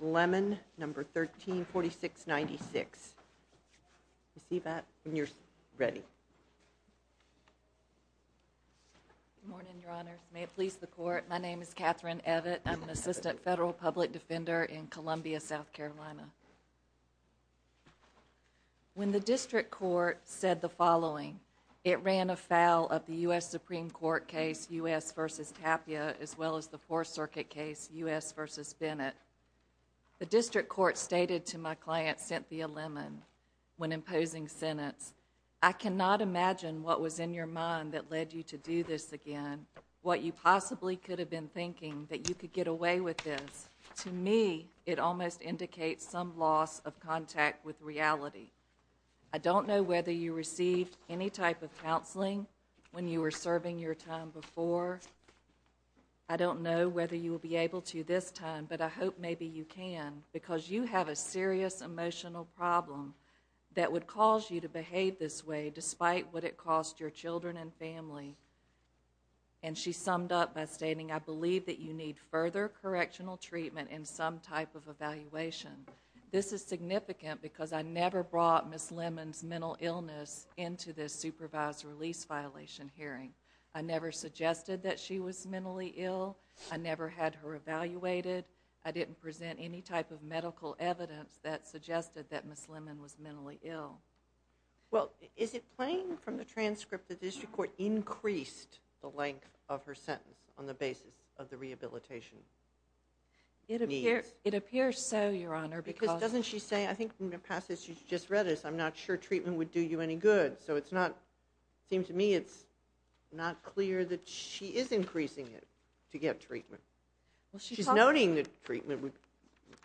Lemon, number 134696. You see that when you're ready? Morning, Your Honor. May it please the court. My name is Catherine Evett. I'm an assistant federal public defender in Columbia, South Carolina. When the district court said the following, it ran afoul of the U. S. Supreme Court case U. S. versus Tapia, as well as the Fourth Circuit case U. S. versus Bennett. The district court stated to my client, Cynthia Lemon, when imposing sentence, I cannot imagine what was in your mind that led you to do this again, what you possibly could have been thinking, that you could get away with this. To me, it almost indicates some loss of contact with reality. I don't know whether you received any type of counseling when you were serving your time before. Or, I don't know whether you will be able to this time, but I hope maybe you can, because you have a serious emotional problem that would cause you to behave this way, despite what it cost your children and family. And she summed up by stating, I believe that you need further correctional treatment and some type of evaluation. This is significant, because I never brought Ms. Lemon's mental illness into this supervised release violation hearing. I never suggested that she was mentally ill. I never had her evaluated. I didn't present any type of medical evidence that suggested that Ms. Lemon was mentally ill. Well, is it plain from the transcript that the district court increased the length of her sentence on the basis of the rehabilitation? It appears so, Your Honor. Because doesn't she say, I think in the passage you just read, I'm not sure treatment would do you any good. So it's not, it seems to me it's not clear that she is increasing it to get treatment. She's noting that treatment,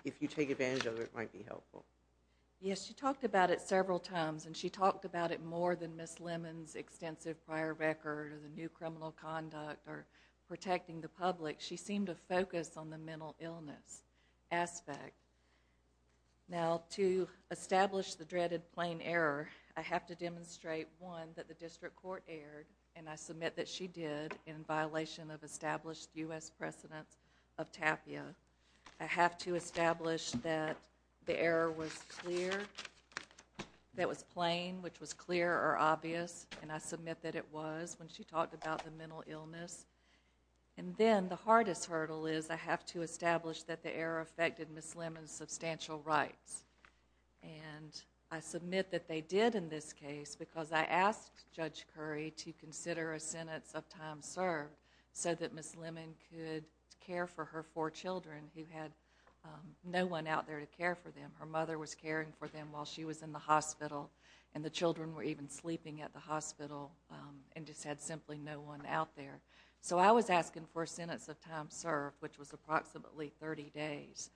if you take advantage of it, might be helpful. Yes, she talked about it several times, and she talked about it more than Ms. Lemon's extensive prior record, or the new criminal conduct, or protecting the public. She seemed to focus on the mental illness aspect. Now, to establish the dreaded plain error, I have to demonstrate, one, that the district court erred, and I submit that she did, in violation of established U.S. precedents of TAPIA. I have to establish that the error was clear, that was plain, which was clear or obvious, and I submit that it was when she talked about the mental illness. And then, the hardest hurdle is, I have to establish that the error affected Ms. Lemon's substantial rights. And I submit that they did in this case, because I asked Judge Curry to consider a sentence of time served, so that Ms. Lemon could care for her four children, who had no one out there to care for them. Her mother was caring for them while she was in the hospital, and the children were even sleeping at the hospital, and just had simply no one out there. So, I was asking for a sentence of time served, which was approximately 30 days,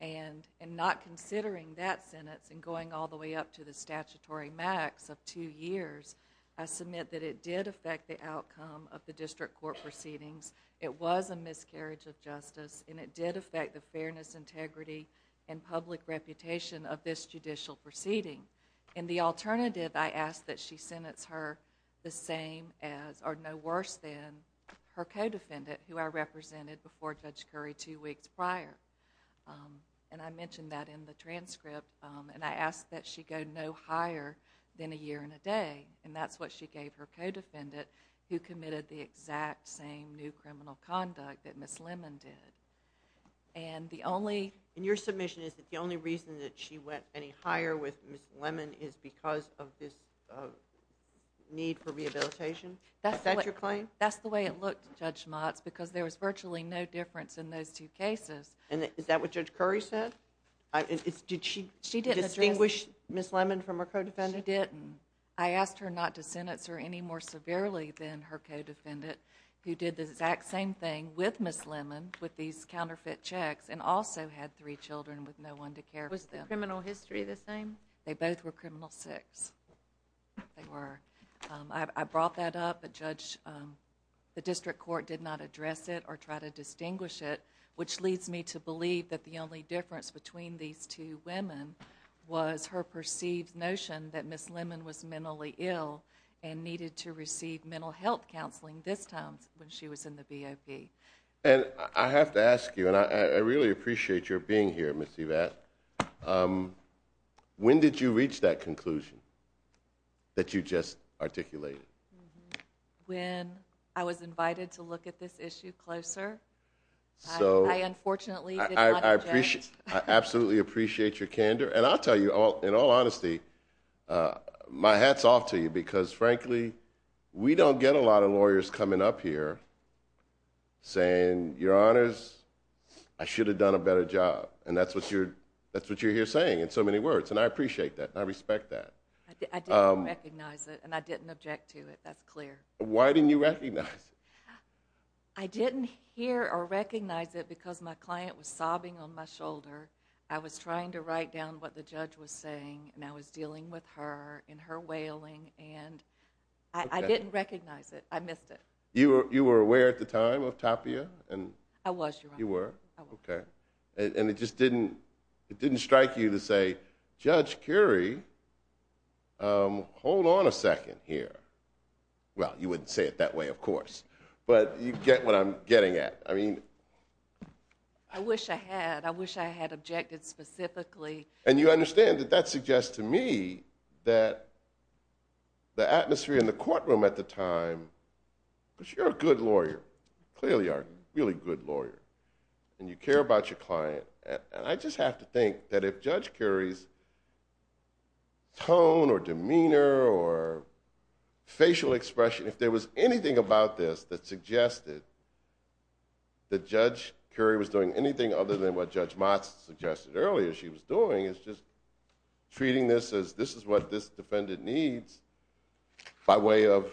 and not considering that sentence, and going all the way up to the statutory max of two years, I submit that it did affect the outcome of the district court proceedings, it was a miscarriage of justice, and it did affect the fairness, integrity, and public reputation of this judicial proceeding. In the alternative, I asked that she sentence her the same as, or no worse than, her co-defendant, who I represented before Judge Curry two weeks prior. And I mentioned that in the transcript, and I asked that she go no higher than a year and a day, and that's what she gave her co-defendant, who committed the exact same new criminal conduct that Ms. Lemon did. And the only- And your submission is that the only reason that she went any higher with Ms. Lemon is because of this need for rehabilitation? Is that your claim? That's the way it looked, Judge Schmatz, because there was virtually no difference in those two cases. And is that what Judge Curry said? Did she distinguish Ms. Lemon from her co-defendant? She didn't. I asked her not to sentence her any more severely than her co-defendant, who did the exact same thing with Ms. Lemon, with these counterfeit checks, and also had three children with no one to care for them. Was the criminal history the same? They both were criminal six. They were. I brought that up, but Judge, the district court did not address it or try to distinguish it, which leads me to believe that the only difference between these two women was her perceived notion that Ms. Lemon was mentally ill and needed to receive mental health counseling this time when she was in the BOP. And I have to ask you, and I really appreciate your being here, Ms. Evatt. When did you reach that conclusion that you just articulated? When I was invited to look at this issue closer. So- I unfortunately did not object. I absolutely appreciate your candor. And I'll tell you, in all honesty, my hat's off to you, because frankly, we don't get a lot of lawyers coming up here saying, your honors, I should have done a better job. And that's what you're here saying in so many words, and I appreciate that, and I respect that. I didn't recognize it, and I didn't object to it. That's clear. Why didn't you recognize it? I didn't hear or recognize it because my client was sobbing on my shoulder. I was trying to write down what the judge was saying, and I was dealing with her and her wailing, and I didn't recognize it. I missed it. You were aware at the time of Tapia? And- I was, your honor. You were? I was. Okay. And it just didn't strike you to say, Judge Curie, hold on a second here. Well, you wouldn't say it that way, of course. But you get what I'm getting at. I mean- I wish I had. I wish I had objected specifically. And you understand that that suggests to me that the atmosphere in the courtroom at the time, because you're a good lawyer, clearly a really good lawyer, and you care about your client. I just have to think that if Judge Curie's tone or demeanor or facial expression, if there was anything about this that suggested that Judge Curie was doing anything other than what Judge Motz suggested earlier she was doing, it's just treating this as, this is what this defendant needs by way of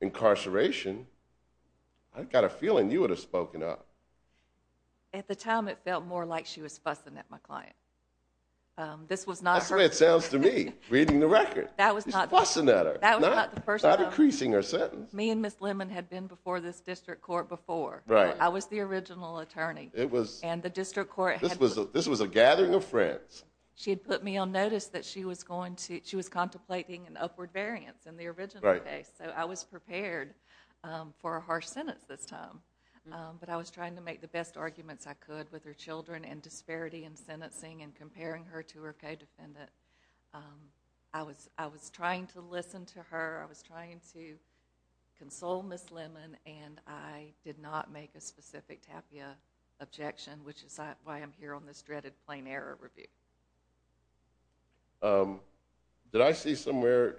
incarceration. I got a feeling you would have spoken up. At the time, it felt more like she was fussing at my client. This was not her- That's the way it sounds to me, reading the record. That was not- She's fussing at her. That was not the person- Not increasing her sentence. Me and Ms. Lemon had been before this district court before. Right. I was the original attorney. It was- And the district court had- This was a gathering of friends. She had put me on notice that she was going to, she was contemplating an upward variance in the original case. So I was prepared for a harsh sentence this time. But I was trying to make the best arguments I could with her children and disparity in sentencing and comparing her to her co-defendant. I was trying to listen to her. I was trying to console Ms. Lemon. And I did not make a specific Tapia objection, which is why I'm here on this dreaded plain error review. Did I see somewhere-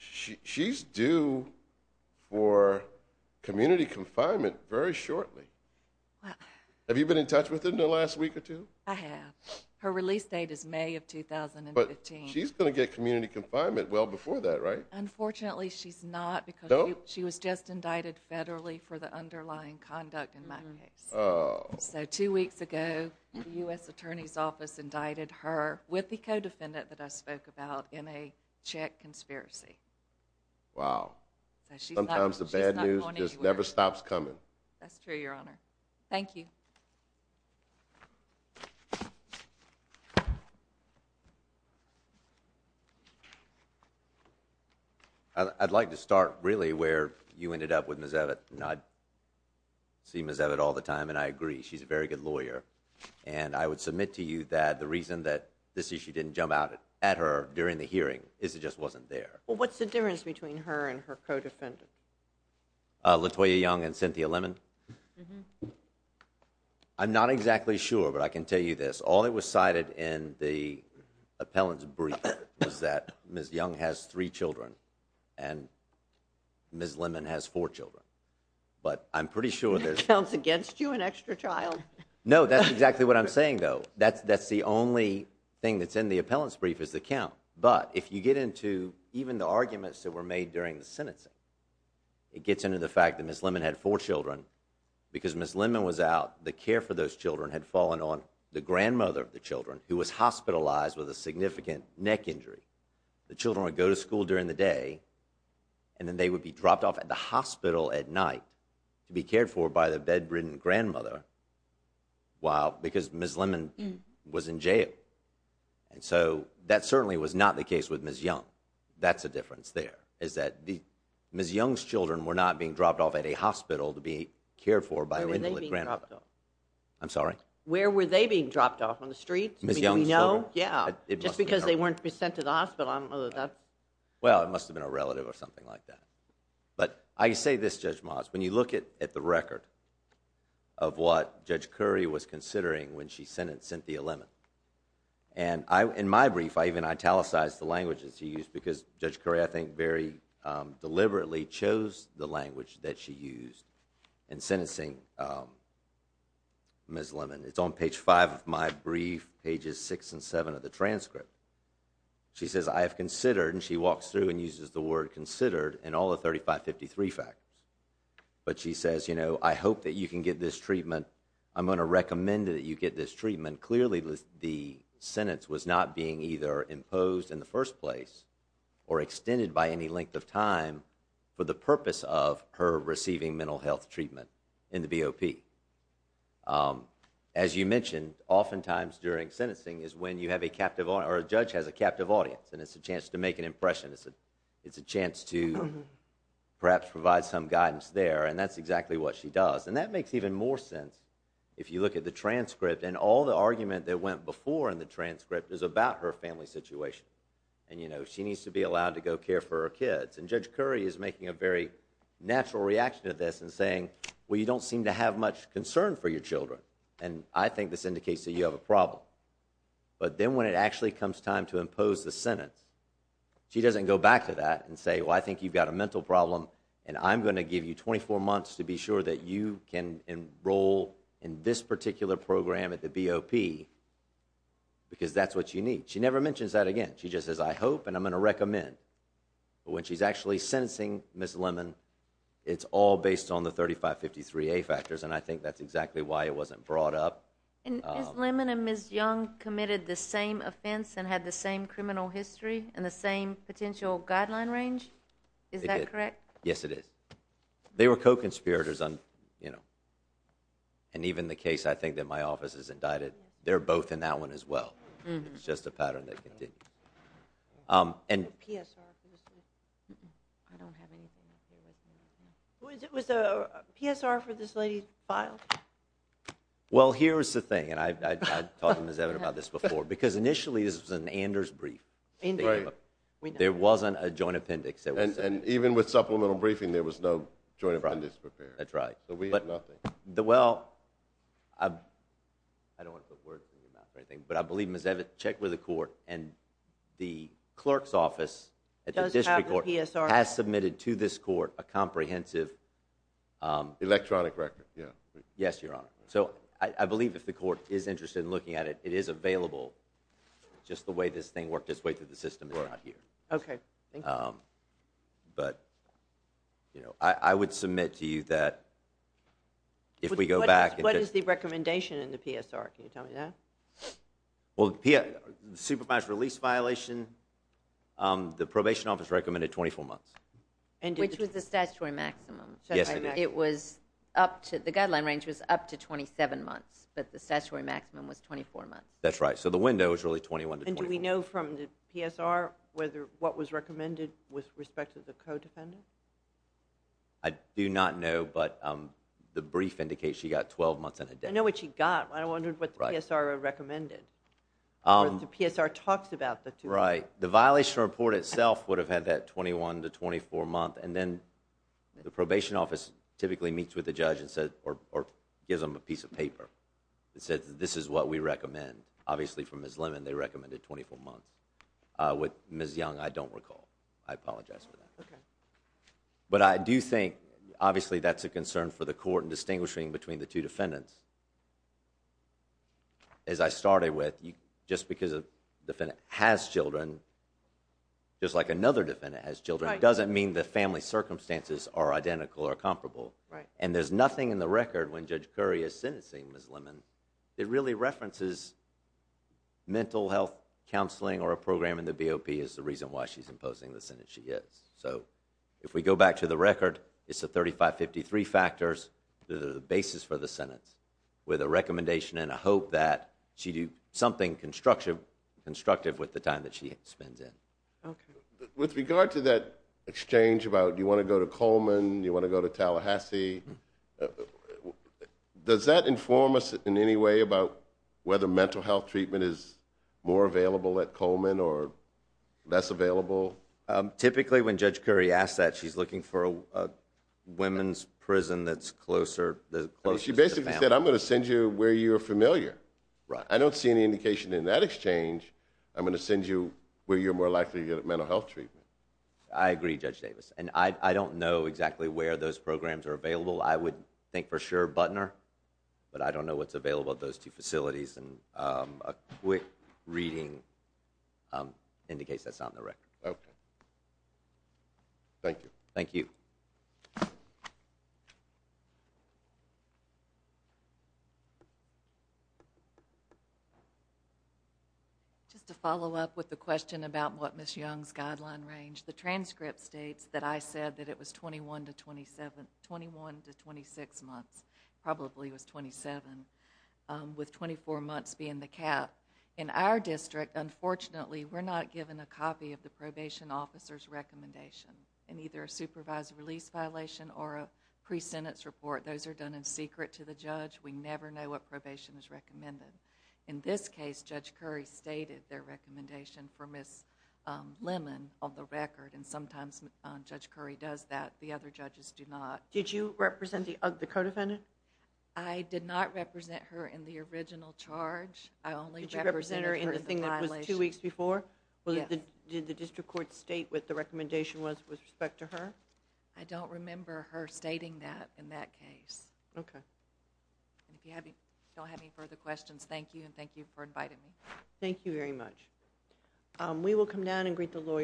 She's due for community confinement very shortly. Have you been in touch with her in the last week or two? I have. Her release date is May of 2015. She's going to get community confinement well before that, right? Unfortunately, she's not because- No? She was just indicted federally for the underlying conduct in my case. Oh. So two weeks ago, the U.S. Attorney's Office indicted her with the co-defendant that I spoke about in a Czech conspiracy. Wow. Sometimes the bad news just never stops coming. That's true, Your Honor. Thank you. I'd like to start, really, where you ended up with Ms. Evatt. And I see Ms. Evatt all the time, and I agree. She's a very good lawyer. And I would submit to you that the reason that this issue didn't jump out at her during the hearing is it just wasn't there. Well, what's the difference between her and her co-defendant? LaToya Young and Cynthia Lemon? I'm not exactly sure, but I can tell you this. All that was cited in the appellant's brief was that Ms. Young has three children and Ms. Lemon has four children. But I'm pretty sure there's- That counts against you, an extra child? No, that's exactly what I'm saying, though. That's the only thing that's in the appellant's brief is the count. But if you get into even the arguments that were made during the sentencing, it gets into the fact that Ms. Lemon had four children because Ms. Lemon was out. The care for those children had fallen on the grandmother of the children, who was hospitalized with a significant neck injury. The children would go to school during the day, and then they would be dropped off at the hospital at night to be cared for by the bedridden grandmother while- Because Ms. Lemon was in jail. And so that certainly was not the case with Ms. Young. That's the difference there, is that Ms. Young's children were not being dropped off at a hospital to be cared for by an invalid grandmother. I'm sorry? Where were they being dropped off? On the streets? Ms. Young's children? Yeah. Just because they weren't being sent to the hospital. Well, it must have been a relative or something like that. But I say this, Judge Moss, when you look at the record of what Judge Curry was considering when she sentenced Cynthia Lemon. And in my brief, I even italicized the languages he used, because Judge Curry, I think, very deliberately chose the language that she used in sentencing Ms. Lemon. It's on page 5 of my brief, pages 6 and 7 of the transcript. She says, I have considered, and she walks through and uses the word considered in all the 3553 factors. But she says, you know, I hope that you can get this treatment. I'm going to recommend that you get this treatment. Clearly, the sentence was not being either imposed in the first place or extended by any length of time for the purpose of her receiving mental health treatment in the BOP. As you mentioned, oftentimes during sentencing is when you have a captive, or a judge has a captive audience, and it's a chance to make an impression. It's a chance to perhaps provide some guidance there. And that's exactly what she does. And that makes even more sense if you look at the transcript. And all the argument that went before in the transcript is about her family situation. And, you know, she needs to be allowed to go care for her kids. And Judge Curry is making a very natural reaction to this and saying, well, you don't seem to have much concern for your children. And I think this indicates that you have a problem. But then when it actually comes time to impose the sentence, she doesn't go back to that and say, well, I think you've got a mental problem, and I'm going to give you 24 months to be sure that you can enroll in this particular program at the BOP because that's what you need. She never mentions that again. She just says, I hope and I'm going to recommend. But when she's actually sentencing Ms. Lemon, it's all based on the 3553A factors. And I think that's exactly why it wasn't brought up. And Ms. Lemon and Ms. Young committed the same offense and had the same criminal history and the same potential guideline range. Is that correct? Yes, it is. They were co-conspirators on, you know, and even the case I think that my office has indicted, they're both in that one as well. It's just a pattern that continues. And it was a PSR for this lady's file? Well, here's the thing. And I've talked to Ms. Evan about this before, because initially this was an Anders brief. There wasn't a joint appendix. And even with supplemental briefing, there was no joint appendix prepared. That's right. So we had nothing. Well, I don't want to put words in your mouth or anything, but I believe Ms. Evan checked with the court and the clerk's office at the district court has submitted to this court a comprehensive electronic record. Yeah. Yes, Your Honor. So I believe if the court is interested in looking at it, it is available. Just the way this thing worked its way through the system is not here. Okay. But, you know, I would submit to you that if we go back What is the recommendation in the PSR? Can you tell me that? Well, the supervised release violation, the probation office recommended 24 months. And which was the statutory maximum? Yes, it was up to the guideline range was up to 27 months, but the statutory maximum was 24 months. That's right. So the window is really 21. And do we know from the PSR whether what was recommended with respect to the codefendant? I do not know. But the brief indicates she got 12 months in a day. I know what she got. I wondered what the PSR recommended. The PSR talks about the two. Right. The violation report itself would have had that 21 to 24 month. And then the probation office typically meets with the judge and said, or gives them a piece of paper that says, this is what we recommend. Obviously, from Ms. Lemon, they recommended 24 months. With Ms. Young, I don't recall. I apologize for that. But I do think obviously that's a concern for the court in distinguishing between the two defendants. As I started with, just because a defendant has children, just like another defendant has children, it doesn't mean the family circumstances are identical or comparable. Right. And there's nothing in the record when Judge Curry is sentencing Ms. Lemon that really references mental health counseling or a program in the BOP as the reason why she's imposing the sentence she gets. So if we go back to the record, it's the 3553 factors that are the basis for the sentence. With a recommendation and a hope that she do something constructive with the time that she spends in. OK. With regard to that exchange about, do you want to go to Coleman? Do you want to go to Tallahassee? Does that inform us in any way about whether mental health treatment is more available at Coleman or less available? Typically, when Judge Curry asks that, she's looking for a women's prison that's closer to the family. She basically said, I'm going to send you where you're familiar. Right. I don't see any indication in that exchange, I'm going to send you where you're more likely to get mental health treatment. I agree, Judge Davis. And I don't know exactly where those programs are available. I would think for sure, Butner. But I don't know what's available at those two facilities. And a quick reading indicates that's on the record. OK. Thank you. Thank you. Thank you. Just to follow up with the question about what Ms. Young's guideline range, the transcript states that I said that it was 21 to 27, 21 to 26 months, probably was 27, with 24 months being the cap. In our district, unfortunately, we're not given a copy of the probation officer's recommendation in either a supervised release violation or a pre-sentence report. Those are done in secret to the judge. We never know what probation is recommended. In this case, Judge Curry stated their recommendation for Ms. Lemon on the record. And sometimes Judge Curry does that. The other judges do not. Did you represent the co-defendant? I did not represent her in the original charge. I only represented her in the violation. Did you represent her in the thing that was two weeks before? Yes. Did the district court state what the recommendation was with respect to her? I don't remember her stating that in that case. Okay. And if you don't have any further questions, thank you. And thank you for inviting me. Thank you very much. We will come down and greet the lawyer.